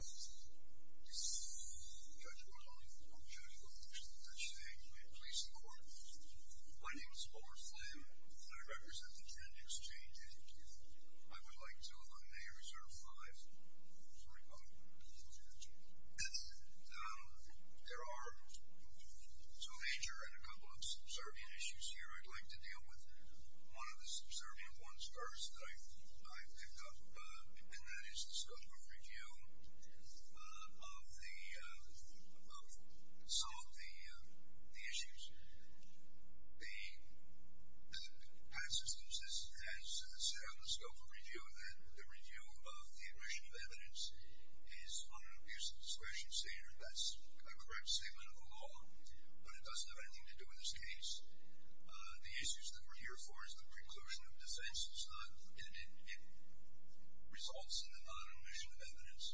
This is Judge Gonzalez. I'm Judge Gonzalez. I'm actually the Judge today. May it please the Court. My name is Oliver Flynn and I represent the Trend Exchange, Inc. I would like to eliminate Reserve 5. Sorry about that. That's it. There are two major and a couple of subservient issues here. I'd like to deal with one of the subservient ones first that I picked up and that is the scope of review of some of the issues. The Patsystems has set up a scope of review that the review of the aggression of evidence is on an abuse of discretion standard. That's a correct statement of the law, but it doesn't have anything to do with this case. The issues that we're here for is the preclusion of defenses, and it results in the non-omission of evidence.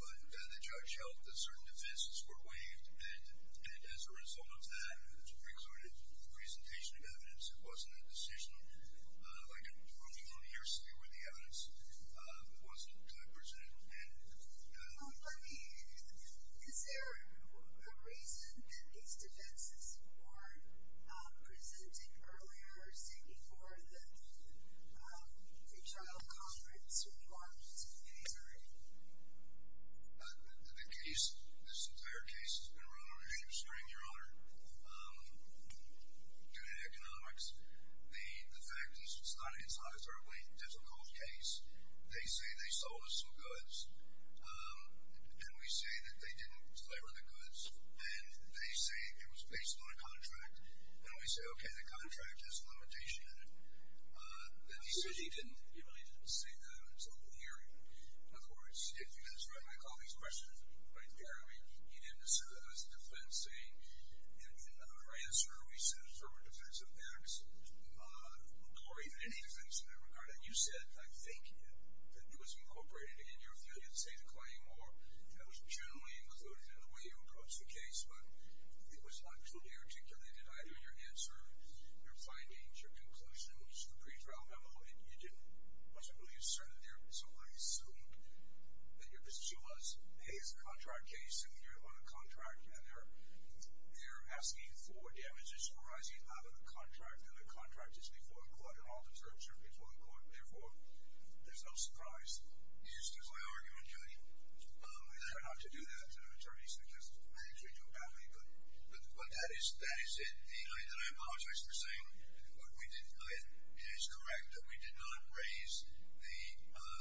But the Judge held that certain defenses were waived, and as a result of that, it's precluded the presentation of evidence. It wasn't a decision like a 21-year stay with the evidence. It wasn't presented. And is there a reason that these defenses were presented earlier, say before the pre-trial conference, or before this committee's hearing? The case, this entire case has been run on a hamstring, Your Honor, due to economics. The fact is it's not an entirely difficult case. They say they sold us some goods, and we say that they didn't deliver the goods, and they say it was based on a contract. And we say, okay, the contract has a limitation in it. He said he didn't really say that until the hearing. Of course, if you guys read my colleague's question right there, he didn't assert that it was a defense. In our answer, we said it was a defense of facts, or even any defense in that regard. And you said, I think, that it was incorporated in your field, you'd say the claim, or that it was generally included in the way you approached the case. But it was unclear to me, particularly, did either your answer, your findings, your conclusion to the pre-trial memo, it wasn't really asserted there, so I assumed that your position was, hey, it's a contract case, and you're on a contract, and they're asking for damages arising out of the contract, and the contract is before the court, and all the terms are before the court. Therefore, there's no surprise. You used it as my argument, Judy. I don't know how to do that. An attorney suggests I actually do badly, but that is it. I apologize for saying it is correct that we did not raise the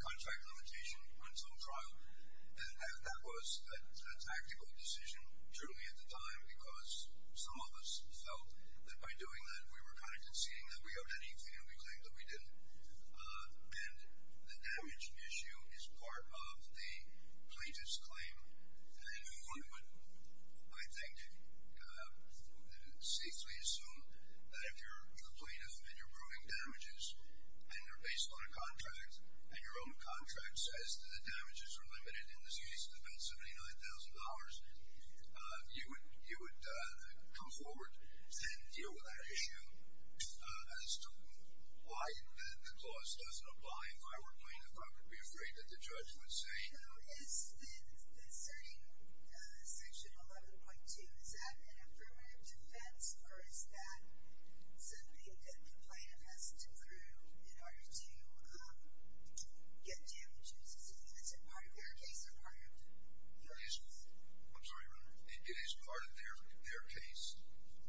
contract limitation until trial. That was a tactical decision, truly, at the time, because some of us felt that by doing that, we were kind of conceding that we owed anything, and we claimed that we didn't. And the damage issue is part of the plaintiff's claim. And one would, I think, safely assume that if you're a plaintiff, and you're proving damages, and they're based on a contract, and your own contract says that the damages are limited in this case to about $79,000, you would come forward and deal with that issue as to why the clause doesn't apply. And if I were a plaintiff, I would be afraid that the judge would say, You know, is inserting section 11.2, is that an affirmative defense, or is that something that the plaintiff has to prove in order to get damages? I'm sorry, Your Honor. It is part of their case.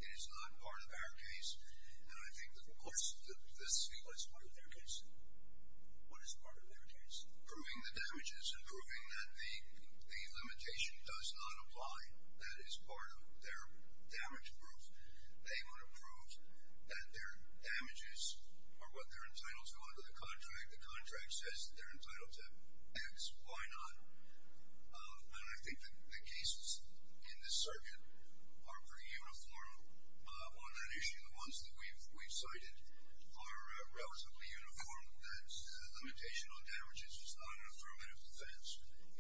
It is not part of our case. And I think that most of the — Let's see, what is part of their case? What is part of their case? Proving the damages and proving that the limitation does not apply. That is part of their damage proof. They want to prove that their damages are what they're entitled to under the contract. The contract says that they're entitled to X, Y, none. And I think that the cases in this circuit are pretty uniform on that issue. The ones that we've cited are relatively uniform. That limitation on damages is not an affirmative defense.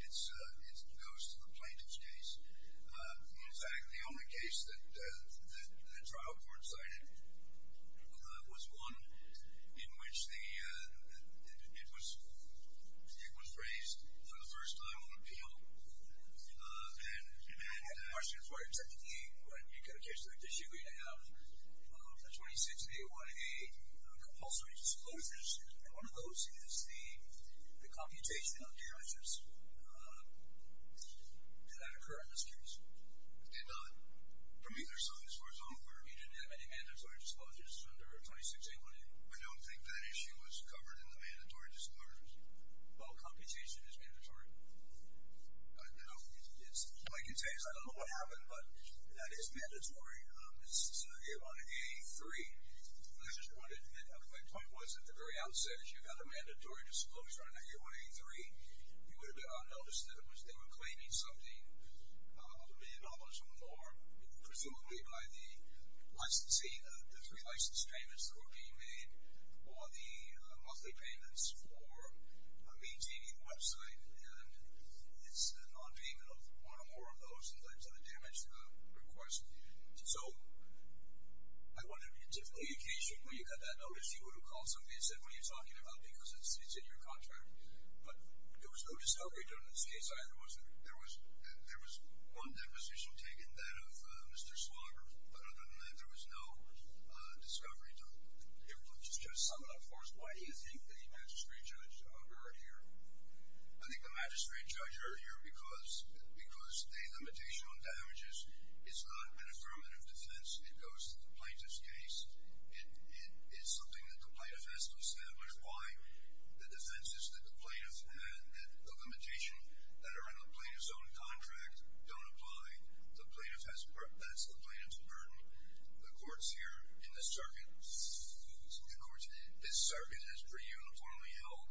It goes to the plaintiff's case. In fact, the only case that the trial court cited was one in which it was raised for the first time on appeal. And the question is where, technically, when you get a case like this, you have the 26 and the 108 compulsory disclosures. And one of those is the computation of damages that occur in this case. And from either side, as far as I'm aware, you didn't have any mandatory disclosures under 26 and 108. I don't think that issue was covered in the mandatory disclosures. Well, computation is mandatory. No. All I can say is I don't know what happened, but that is mandatory. This is a circuit 183. I just wanted to point out that my point was at the very outset, if you had a mandatory disclosure under 183, you would have noticed that they were claiming something, a million dollars or more, presumably by the three license payments that were being made or the monthly payments for maintaining the website. And it's a nonpayment of one or more of those. So I wonder, on occasion when you had that notice, you would have called somebody and said, what are you talking about because it's in your contract. But there was no discovery done in this case either, was there? There was one deposition taken, that of Mr. Slobber. But other than that, there was no discovery done. Just to sum it up for us, why do you think the magistrate judge are here? I think the magistrate judge are here because the limitation on damages is not an affirmative defense. It goes to the plaintiff's case. It is something that the plaintiff has to establish. Why? The defense is that the limitation that are in the plaintiff's own contract don't apply. That's the plaintiff's burden. The court's here in this circuit. In other words, this circuit is pre-uniformly held.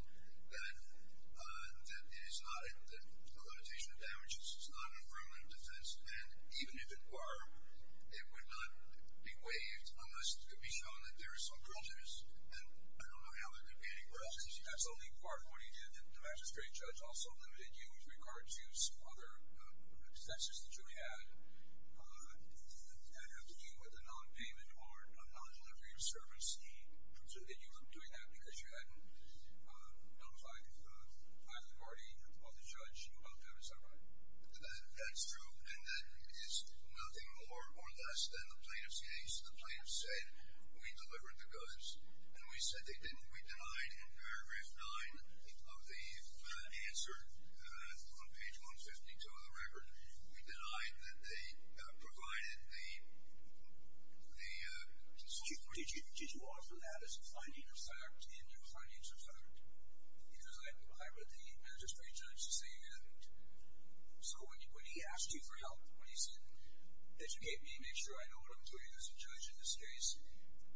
It is not a limitation of damages. It's not an affirmative defense. And even if it were, it would not be waived unless it could be shown that there are some charges. And I don't know how that could be any worse. Absolutely. Quark, when you did that, the magistrate judge also limited you with regard to some other expenses that you had, and had to deal with a non-payment or a non-delivery service fee. So did you end up doing that because you hadn't notified either the party or the judge about that? Is that right? That's true. And that is nothing more or less than the plaintiff's case. The plaintiff said, we delivered the goods. And we said they didn't. We denied in paragraph 9 of the answer on page 152 of the record. We denied that they provided the security. Did you offer that as a finding of fact in your findings of fact? Because I read the magistrate judge saying that. So when he asked you for help, when he said educate me, make sure I know what I'm doing as a judge in this case,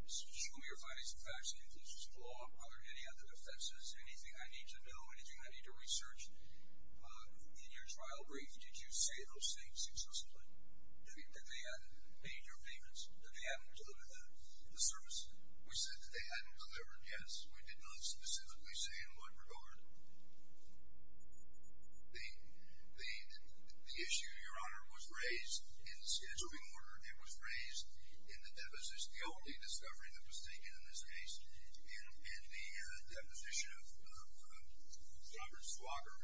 show me your findings of facts and conclusions of law, are there any other offenses, anything I need to know, anything I need to research? In your trial brief, did you say those things successfully, that they had major payments, that they hadn't delivered the service? We said that they hadn't delivered, yes. We did not specifically say in what regard. The issue, Your Honor, was raised in the scheduling order. It was raised in the guilty discovery that was taken in this case. In the deposition of Robert Flocker,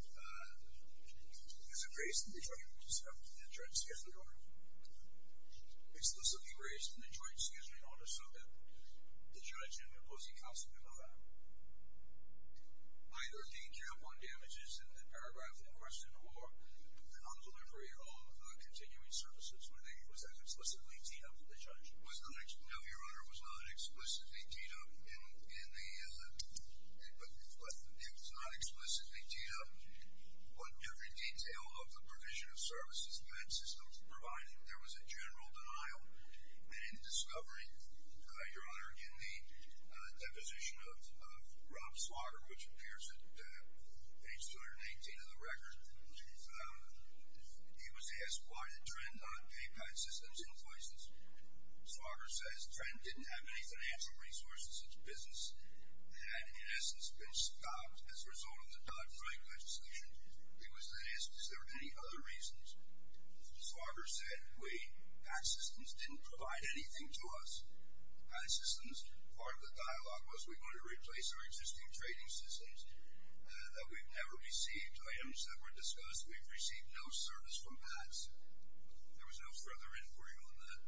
it was raised in the judgment discovery in the joint scheduling order. Explicitly raised in the joint scheduling order, so that the judge and the opposing counsel did not have either danger upon damages in the paragraph in question or the non-delivery at all of the continuing services. I think it was explicitly deemed that the judge was not, no, Your Honor, was not explicitly teed up in the, it was not explicitly teed up on every detail of the provision of services meant systems provided. There was a general denial. In the discovery, Your Honor, in the deposition of Rob Flocker, which appears at page 318 of the record, he was asked why the trend on PayPal systems in places. Flocker says, Trend didn't have any financial resources in its business and had, in essence, been stopped as a result of the Dodd-Frank legislation. He was asked if there were any other reasons. Flocker said, We, PAX systems, didn't provide anything to us. PAX systems, part of the dialogue was we wanted to replace our existing trading systems. We've never received items that were discussed. We've received no service from PAX. There was no further inquiry on that.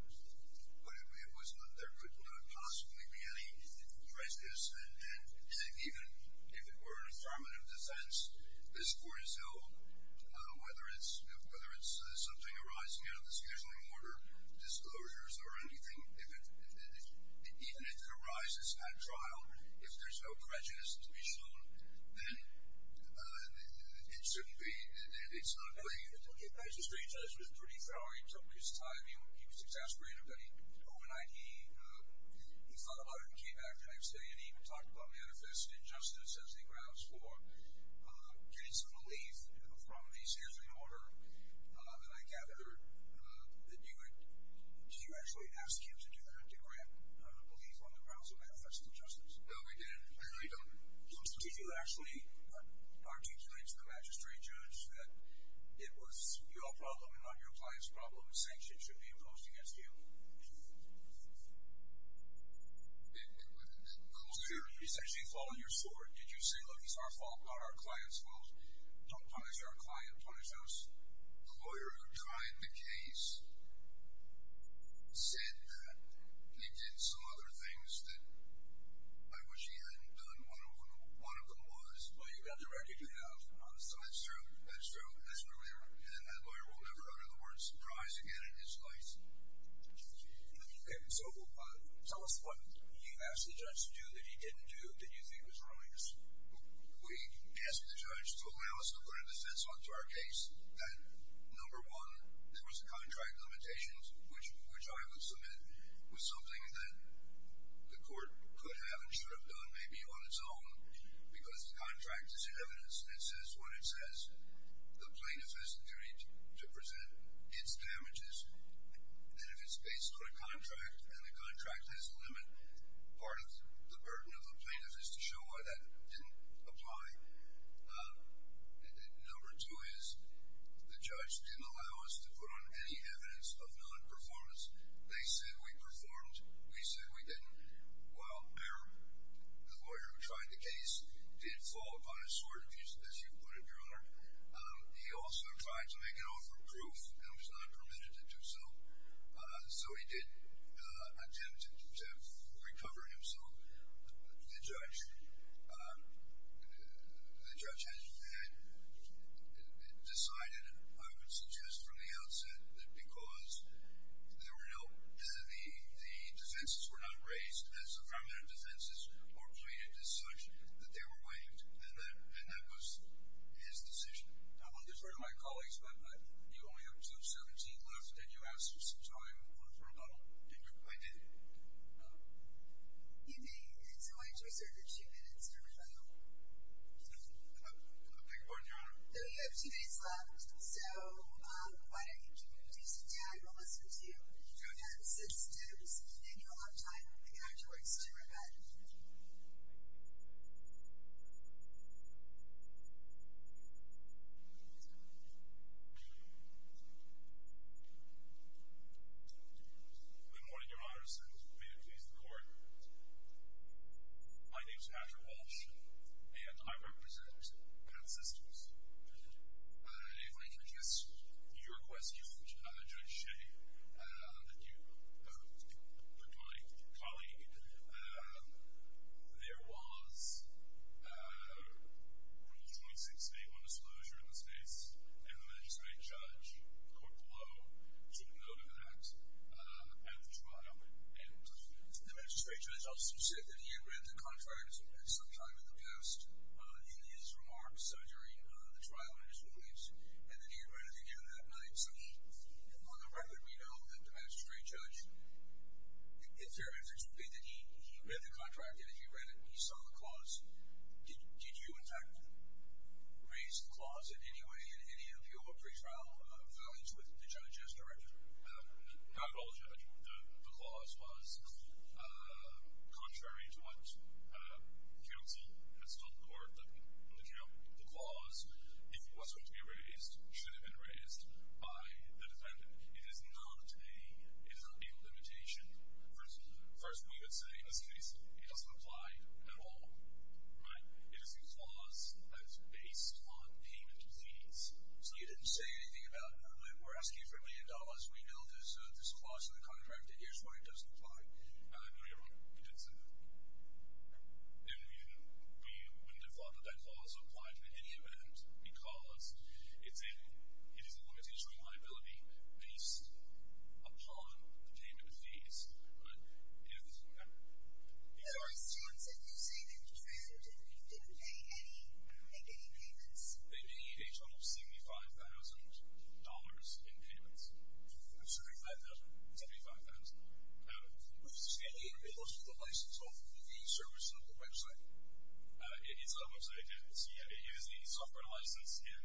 There could not possibly be any prejudice, and even if it were an affirmative defense, this Court has held, whether it's something arising out of the scheduling order, disclosures or anything, even if it arises at trial, if there's no prejudice to be shown, then it shouldn't be, it's not clear. The magistrate judge was pretty thorough. He took his time. He was exasperated, but overnight he thought about it and came back the next day and even talked about manifest injustice as the grounds for canceling relief from the scheduling order. And I gather that you had, did you actually ask him to do that, to grant relief on the grounds of manifest injustice? No, we didn't. So did you actually articulate to the magistrate judge that it was your problem and not your client's problem and sanctions should be imposed against you? No. It was essentially falling your sword. Did you say, look, it's our fault, not our client's fault? Don't punish our client, punish us. The lawyer who tried the case said that he did some other things that I wish he hadn't done. One of them was, well, you've got the record you have. That's true. That's true. And that lawyer will never utter the word surprise again in his life. Okay. So tell us what you asked the judge to do that he didn't do that you think was wrong. We asked the judge to allow us to put a defense onto our case that, number one, there was a contract limitation, which I would submit was something that the court could have and should have done maybe on its own because the contract is in evidence and it says what it says. The plaintiff has the duty to present its damages and if it's based on a contract and the contract has a limit, part of the burden of the plaintiff is to show why that didn't apply. Number two is the judge didn't allow us to put on any evidence of non-performance. They said we performed. We said we didn't. While the lawyer who tried the case did fall upon his sword, as you put it, Your Honor, he also tried to make an offer of proof and was not permitted to do so. So he did attempt to recover himself. The judge had decided, I would suggest from the outset, that because the defenses were not raised as affirmative defenses or pleaded as such, that they were waived, and that was his decision. I will defer to my colleagues, but you only have two-seventeen left and you asked for some time in order for a vote. I did. You may, Your Honor. Your time is reserved for two minutes, Your Honor. I beg your pardon, Your Honor? You have two minutes left. So, why don't you do some tag? We'll listen to you. Go ahead and sit, sit down, sit down. Then you'll have time afterwards to repent. Good morning, Your Honor. As soon as you're ready to please the Court. My name is Patrick Walsh, and I represent Penn Sisters. If I can address your question, Judge Shea, that you put to my colleague, there was Rule 26.81 disclosure in this case, and the magistrate judge, Court below, took note of that at the trial. And the magistrate judge also said that he had read the contract at some time in the past, in his remarks, during the trial in his willings, and that he had read it again that night. So he, on the record, we know that the magistrate judge, it's very interesting to me that he read the contract, and he saw the clause. Did you, in fact, raise the clause in any way, in any appeal or pretrial filings with the judge as director? Not at all, Judge. The clause was contrary to what counsel has told the Court. The clause, if it was going to be raised, should have been raised by the defendant. It is not a limitation. First, we would say it's facile. It doesn't apply at all, right? It is a clause that's based on payment of fees. So you didn't say anything about, no, we're asking for a million dollars. So we know there's a clause in the contract, and here's why it doesn't apply. No, you're wrong. It doesn't. We wouldn't have thought that that clause applied in any event because it is a limitation on liability based upon payment of fees. But if... In other words, John said the same thing, which was facile, but you didn't make any payments. Yes. Maybe a total of $75,000 in payments. I'm assuming that doesn't. $75,000. It was the license of the service on the website. It's on the website, yes. It is a software license, and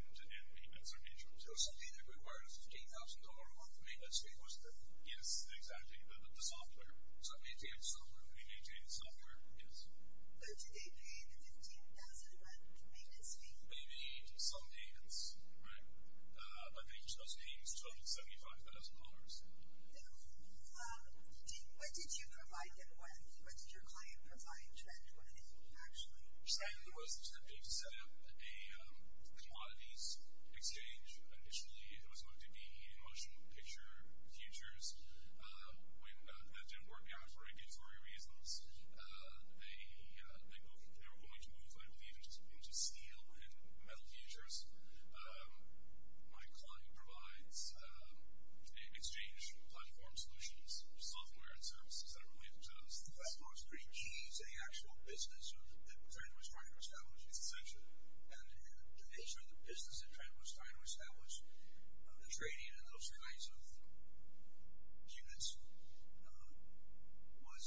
payments are mutual. So something that requires $15,000 worth of payments, it was there. Yes, exactly. The software. So it maintains software. It maintains software, yes. So do they pay the $15,000 maintenance fee? They need some payments, right? But they just don't pay you $275,000. No. What did you provide them with? What did your client provide Trent with, actually? Trent was attempting to set up a commodities exchange. Initially, it was going to be motion picture futures. That didn't work out for regulatory reasons. They were going to move, I believe, into steel and metal futures. My client provides exchange platform solutions, software and services that are related to those. The platform is pretty key to the actual business that Trent was trying to establish, et cetera. And the nature of the business that Trent was trying to establish, the trading in those kinds of units was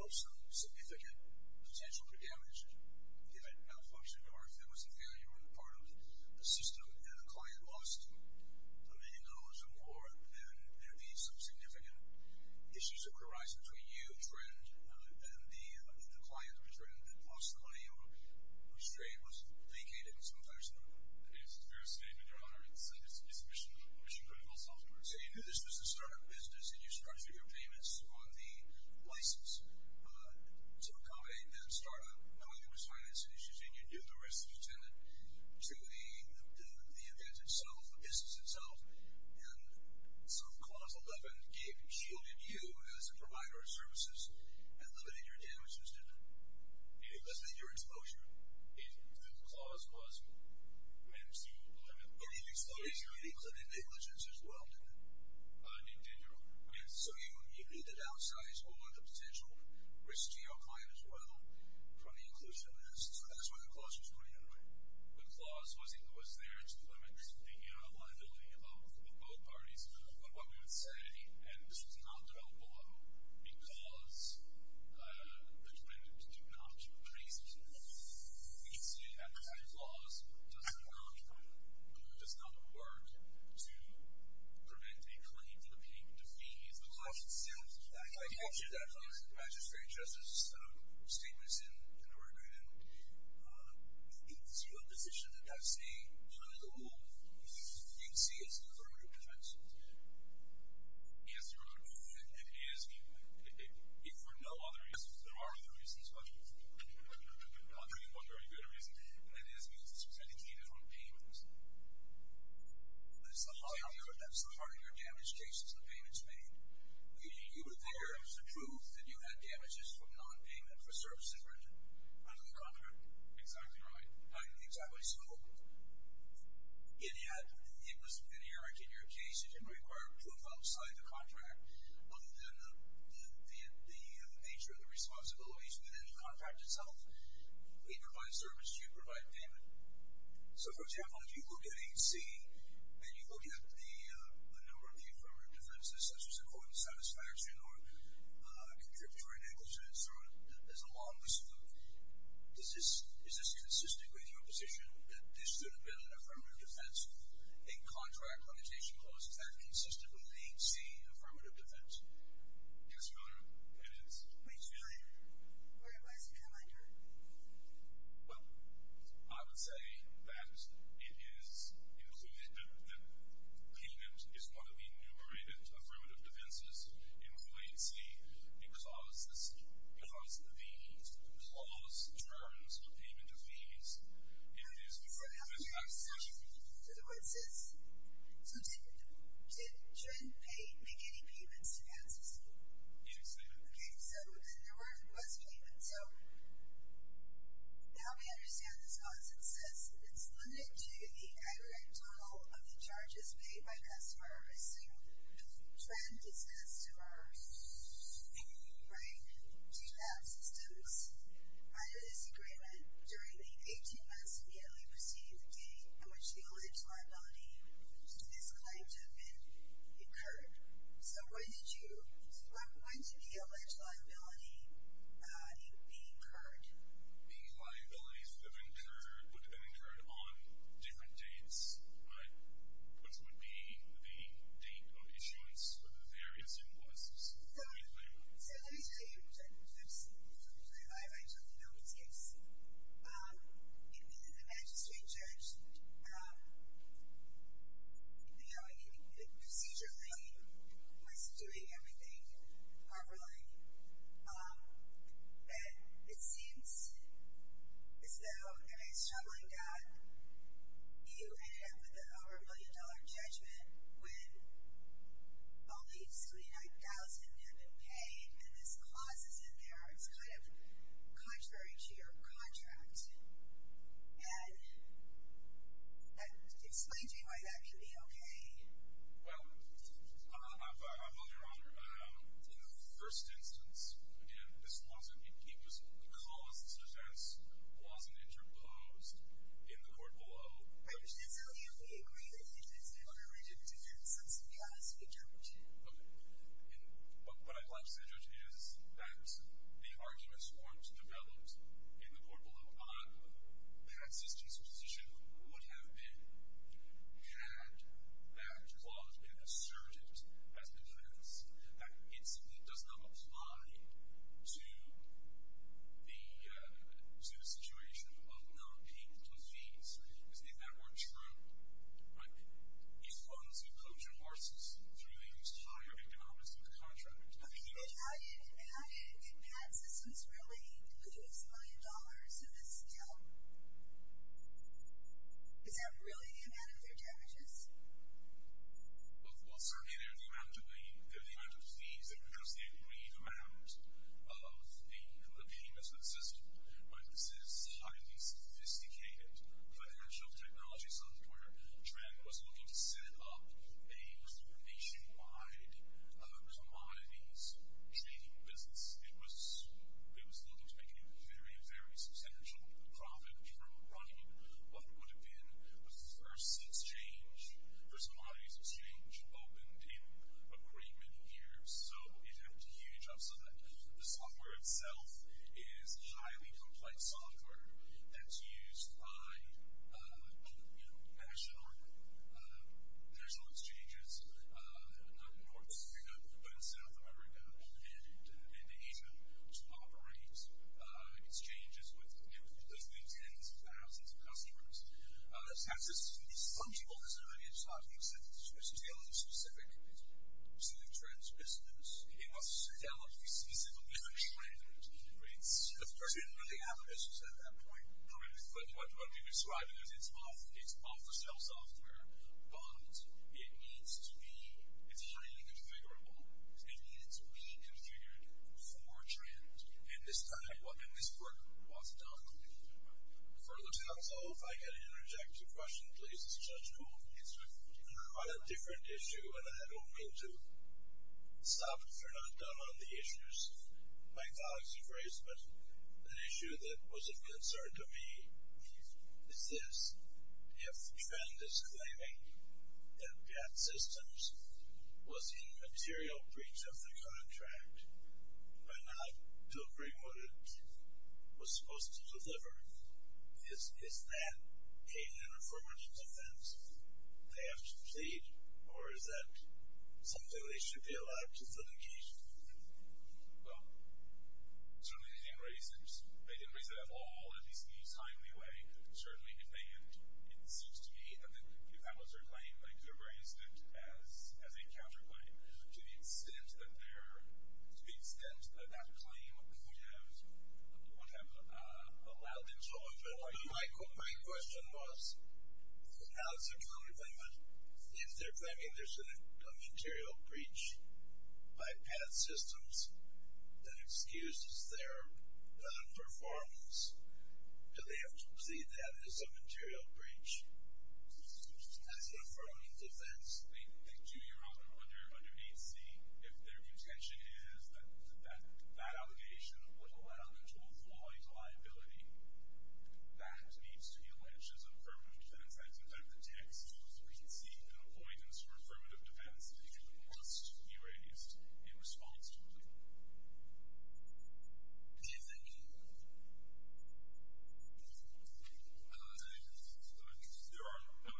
of some significant potential to damage if it malfunctioned or if there was a failure on the part of the system and the client lost a million dollars or more, then there would be some significant issues that would arise between you, Trent, and the client, Trent, that possibly or whose trade was vacated in some fashion. I think it's a fair statement, Your Honor. It's mission critical software. So you knew this was a startup business and you structured your payments on the license to accommodate that startup. Now, there was financing issues and you knew the risks and you tended to the event itself, the business itself. And so the clause opened up and shielded you as a provider of services and limited your damages, didn't it? It limited your exposure. The clause was meant to limit your exposure. It included negligence as well, didn't it? It did. So you knew the downsides or the potential risk to your client as well from the inclusion of the license. So that's why the clause was put in, right? The clause was there to limit the liability of both parties. But what we would say, and this was not developed by them, because the claimant did not trace it. The incident at the time clause does not work to prevent a claim from being defeated. The clause itself, I captured that from the magistrate justice statements in Oregon. Is your position that that's a political move? Do you see it as an affirmative defense? Yes, Your Honor. It is for no other reason. There are other reasons. I'm not going to give one very good reason. It is because it's protected from payments. But it's the higher damage cases the payments made. You would think there was a proof that you had damages from nonpayment for services rendered under the contract. Exactly right. Exactly. So, and yet, it was inerrant in your case. It didn't require proof outside the contract other than the nature of the responsibilities within the contract itself. We provide service. You provide payment. So, for example, if you look at AC, and you look at the number of confirmative defenses, such as accordance, satisfaction, or contributory negligence, there's a long list of them. Is this consistent with your position that this should have been an affirmative defense? A contract connotation clause, is that consistent with the AC affirmative defense? Yes, Your Honor. It is. Wait a second. What advice would you like to give? Well, I would say that it is included, that payment is one of the enumerated affirmative defenses, including AC, because the clause determines the payment of fees. Yes, Your Honor. So, for example, your assumption to the court says, so did Trent make any payments to ASDC? Yes, I did. Okay, so there was payment. So, help me understand this clause. It says, it's limited to the aggregate total of the charges made by customer or visitor. So, Trent is a customer, right, to ASDC. Under this agreement, during the 18 months immediately preceding the date in which the alleged liability is claimed to have been incurred. So, when did the alleged liability be incurred? The liabilities that have been incurred would have been incurred on different dates, but what would be the date of issuance of the various invoices? So, let me tell you, because I've seen the court report live, I totally know what this is. In the Magistrate Church, you know, the procedure lane was doing everything properly, but it seems as though, I mean, it's troubling that you ended up with an over-a-million-dollar judgment when only $39,000 had been paid, and this clause is in there. It's kind of contrary to your contract, and explain to me why that should be okay. Well, I'm on your honor. In the first instance, again, this wasn't, it was a clause such as wasn't interposed in the court below. I'm just telling you, we agree that it is an over-rejected instance, to be honest with you, Judge. Okay, and what I'd like to say, Judge, is that the arguments weren't developed in the court below on that this disposition would have been had that clause been asserted as evidence that it simply does not apply to the situation of non-payment of fees. Isn't that more true? Right? He funds and coaches horses through these higher economics of the contract. Okay, but how did bad systems really lose a million dollars in this bill? Is that really the amount of their damages? Well, certainly, they're the amount of fees that reduce the agreed amount of the payment of the system. But this is highly sophisticated financial technology software. Trent was looking to set up a nationwide commodities trading business. It was looking to make a very, very substantial profit from running what would have been the first exchange, first commodities exchange opened in a great many years. So it had huge ups and downs. The software itself is highly complex software that's used by national exchanges, not in North America, but in South America and Asia, to operate exchanges with millions, tens of thousands of customers. Some people, as I mentioned, were still specific to the Trent business. It was still specifically for Trent. It didn't really have a business at that point. But what you're describing is it's off-the-shelf software, but it needs to be highly configurable. It needs to be configured for Trent. And this time, and this work was not completed. Further to that, though, I can interject a question It's quite a different issue, and I don't mean to sob if you're not done on the issues my colleagues have raised, but an issue that was of concern to me is this. If Trent is claiming that Pat Systems was in material breach of the contract, why not to agree what it was supposed to deliver? Is that a uniformity defense? They have to plead? Or is that something they should be allowed justification for? Well, certainly they didn't raise it at all, at least in the timely way. Certainly it seems to me that if that was their claim, they could have raised it as a counterclaim to the extent that that claim would have allowed them to avoid it. My question was, how is there a counterclaim? If they're claiming there's a material breach by Pat Systems that excuses their non-performance, do they have to plead that as a material breach? That's an affirmative defense. They do your honor, under 8C, if their intention is that that allegation would allow them to avoid liability, that needs to be alleged as an affirmative defense. That's exactly the text. So we can see an avoidance for affirmative defense that you must be raised in response to a plea. Is there any other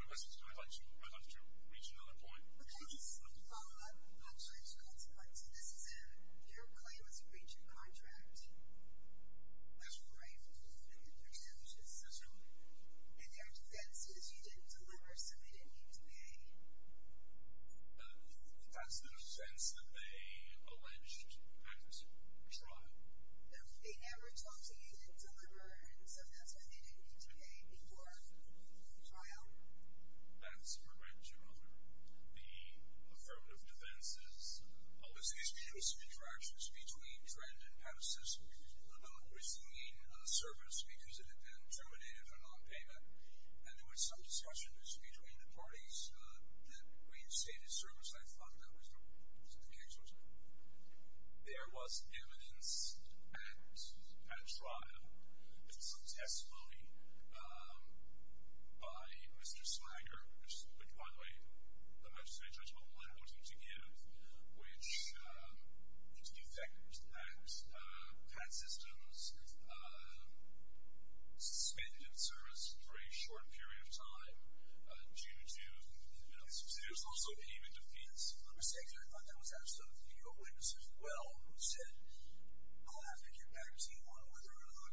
questions? I'd like to reach another point. Okay, just a follow-up. Actually, I just wanted to point to this. Your claim is a breach of contract. That's correct. That's correct. And their defense is you didn't deliver, so they didn't need to pay. That's in the sense that they alleged at trial. They never told you they didn't deliver, and so that's why they didn't need to pay before the trial. That's correct, your honor. The affirmative defense is, obviously, there's been some interactions between Trent and Patterson. The bill was the main service because it had been terminated for nonpayment, and there was some discussion between the parties that we'd say the service I thought that was the case was. There was evidence at trial and some testimony by Mr. Snyder, which, by the way, the magistrate judge did not want him to give, which is defective, that Pat Systems suspended its service for a short period of time due to, you know, there's also payment defeats. Let me say that I thought that was absolutely a witness as well who said, I'll have to get back to you on whether or not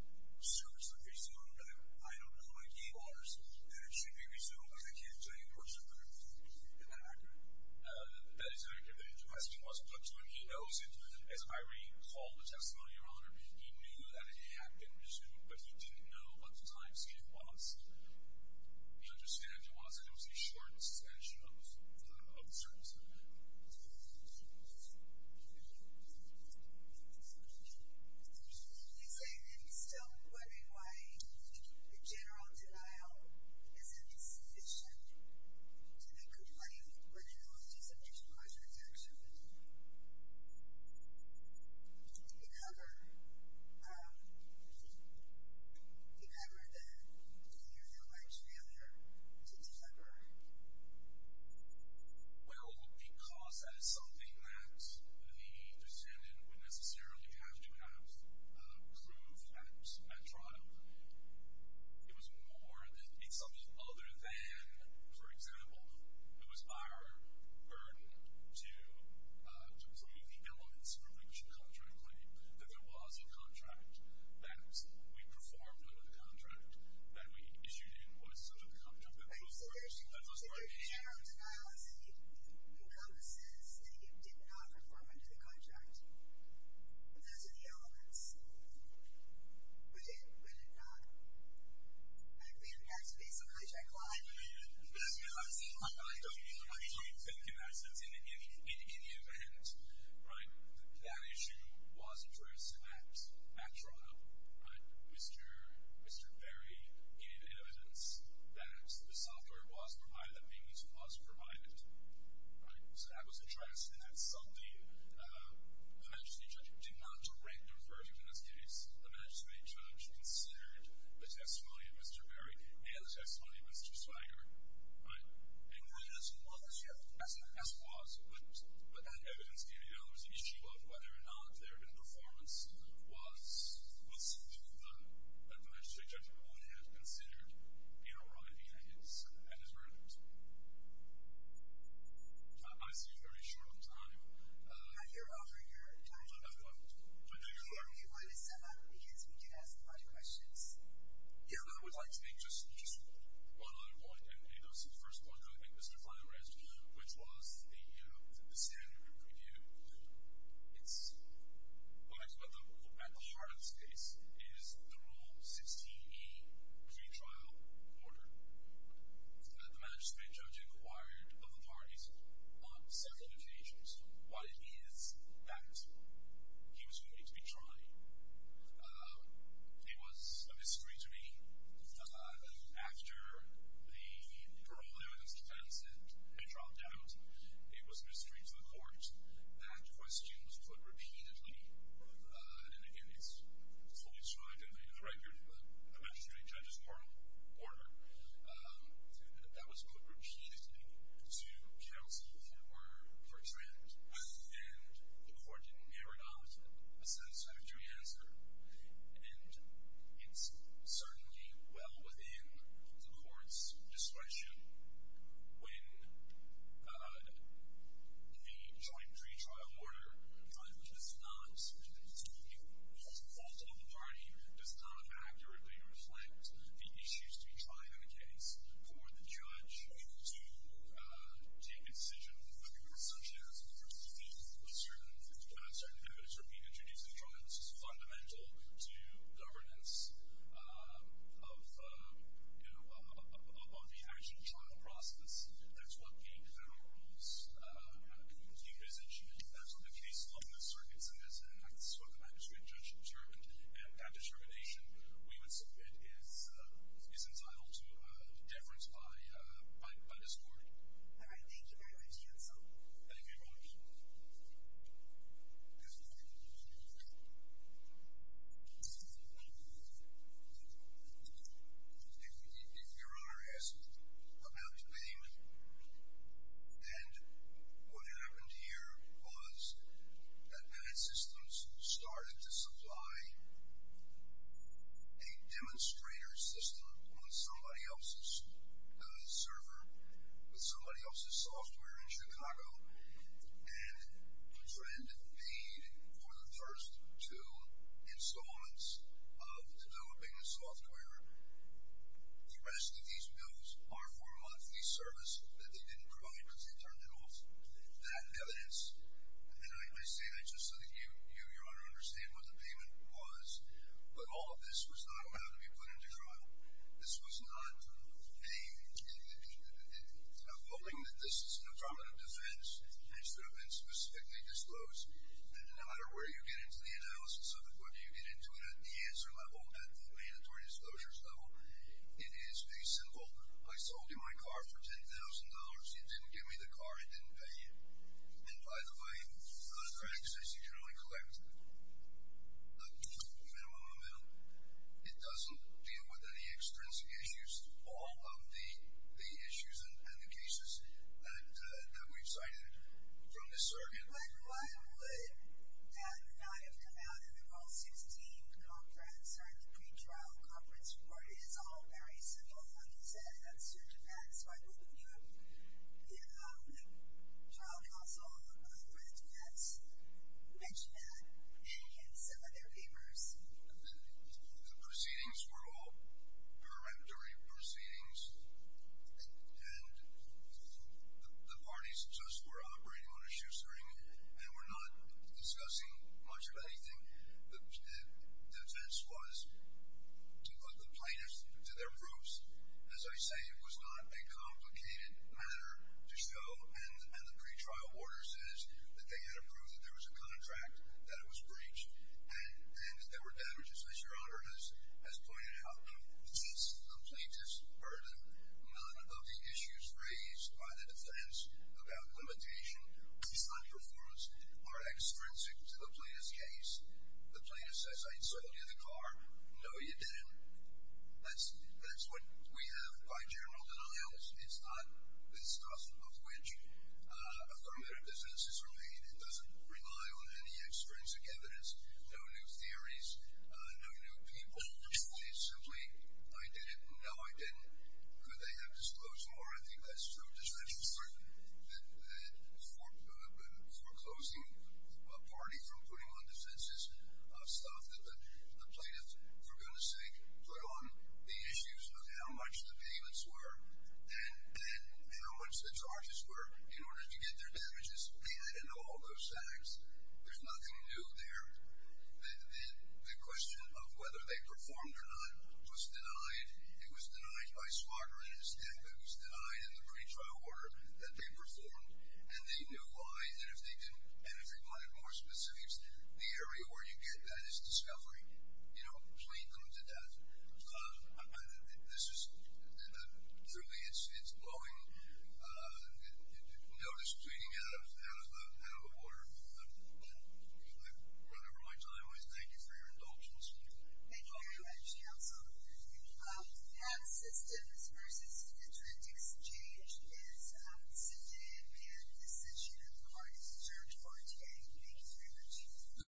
the service is resumed. I don't know my key bars that it should be resumed because I can't tell you personally. Is that accurate? That is accurate. The question was put to him. He knows it. As I recall the testimony, your honor, he knew that it had been resumed, but he didn't know what the time scale was. He understood it wasn't. It was a short suspension of the service. I'm still wondering why the general denial is an insinuation to the complaint for negligence of judicialized rejection. Did it ever, did it ever then, do you feel like failure to deliver? Well, because that is something that the descendant would necessarily have to have prove at trial. It was more than, it's something other than, for example, it was our burden to to prove the elements of a breach of contract claim that there was a contract, that we performed under the contract, that we issued in what is such a contract. So there's a general denial that you come and says that you did not perform under the contract. Those are the elements. But it, but it not, I mean, that's basically a check line. I don't think in any event, right, that issue was addressed at trial. Mr. Perry gave evidence that the software was provided, that maintenance was provided. So that was addressed, and that's something that the magistrate judge did not directly refer to in this case. The magistrate judge considered the testimony of Mr. Perry and the testimony of Mr. Swigert, right? And he wasn't as involved as you. As he was, but that evidence gave the elements. The issue of whether or not there had been a performance was something that the magistrate judge would have considered in arriving at his verdict. I see very short of time. Matt, you're over your time. Do I have time? Okay, are we able to sum up? Because we do have some time for questions. Yeah, I would like to make just one other point, and it was the first point that I think Mr. Fleming raised, which was the, you know, the standard review. It's, well, actually, at the heart of this case is the Rule 16e pretrial order that the magistrate judge required of the parties on several occasions. What it is that he was going to be trying. It was a mystery to me after the parole evidence that I sent had dropped out, it was a mystery to the court that questions were put repeatedly. And, again, it's fully described in the record of the magistrate judge's moral order. That was put repeatedly to counsel who were for Trent. And the court did never adopt a satisfactory answer. And it's certainly well within the court's discretion when the joint pretrial order does not, the default on the party does not accurately reflect the issues to be tried in a case for the judge to take a decision whether or not such an answer was worthy of a certain evidence or be introduced in the trial. This is fundamental to governance of, you know, on the actual trial process. That's what the federal rules do as a judge. That's what the case law in the circuits of this enacts, what the magistrate judge determined. And that determination, we would submit, is entitled to deference by this court. All right. Thank you very much, counsel. Thank you very much. If Your Honor is about to name and what happened here was that man systems started to supply a demonstrator system on somebody else's server with somebody else's software in Chicago and a friend paid for the first two installments of developing the software. The rest of these bills are for a monthly service that they didn't provide because they turned it off. That evidence, and I say that just so that you, Your Honor, understand what the payment was, but all of this was not allowed to be put into trial. This was not a... I'm hoping that this is an affirmative defense and should have been specifically disclosed. And no matter where you get into the analysis of it, whether you get into it at the answer level or at the mandatory disclosures level, it is a symbol. I sold you my car for $10,000. You didn't give me the car. I didn't pay you. And by the way, those credits, as you generally collect, the minimum amount, it doesn't deal with any extrinsic issues. All of the issues and the cases that we've cited from this surrogate... But why would Katherine and I have come out in the Roll 16 conference or in the pretrial conference where it is all very simple, as you said, and that's through Japan, so I believe in Europe, the trial counsel mentioned that in some of their papers. The proceedings were all peremptory proceedings and the parties just were operating on a shoestring and were not discussing much of anything. The defense was to put the plaintiffs to their proofs. As I say, it was not a complicated matter to show and the pretrial order says that they had approved that there was a contract that was breached and that there were damages, as your honor has pointed out. The cases of the plaintiffs are none of the issues raised by the defense about limitation. These unperforms are extrinsic to the plaintiff's case. The plaintiff says, I sold you the car. No, you didn't. That's what we have by general denials. It's not discussed of which affirmative defenses are made. It doesn't rely on any extrinsic evidence, no new theories, no new people. They simply, I did it. No, I didn't. They have disclosed more. I think that's true. Disclosures that foreclosing a party from putting on defenses, stuff that the plaintiffs were going to say put on the issues of how much the payments were and how much the charges were in order to get their damages. I didn't know all those facts. There's nothing new there. The question of whether they performed or not was denied. It was denied by Smarter and his staff. It was denied in the pre-trial order that they performed. And they knew why and if they wanted more specifics, the area where you get that is discovery. You know, claim them to death. This is, truly, it's blowing. Notice, we can get out of the water and move on. With that, Brother Roig, I always thank you for your indulgence. Thank you. Thank you, Mr. Counselor. And systems versus attributes change is a sit-in and decision of the parties in charge for today. Thank you very much.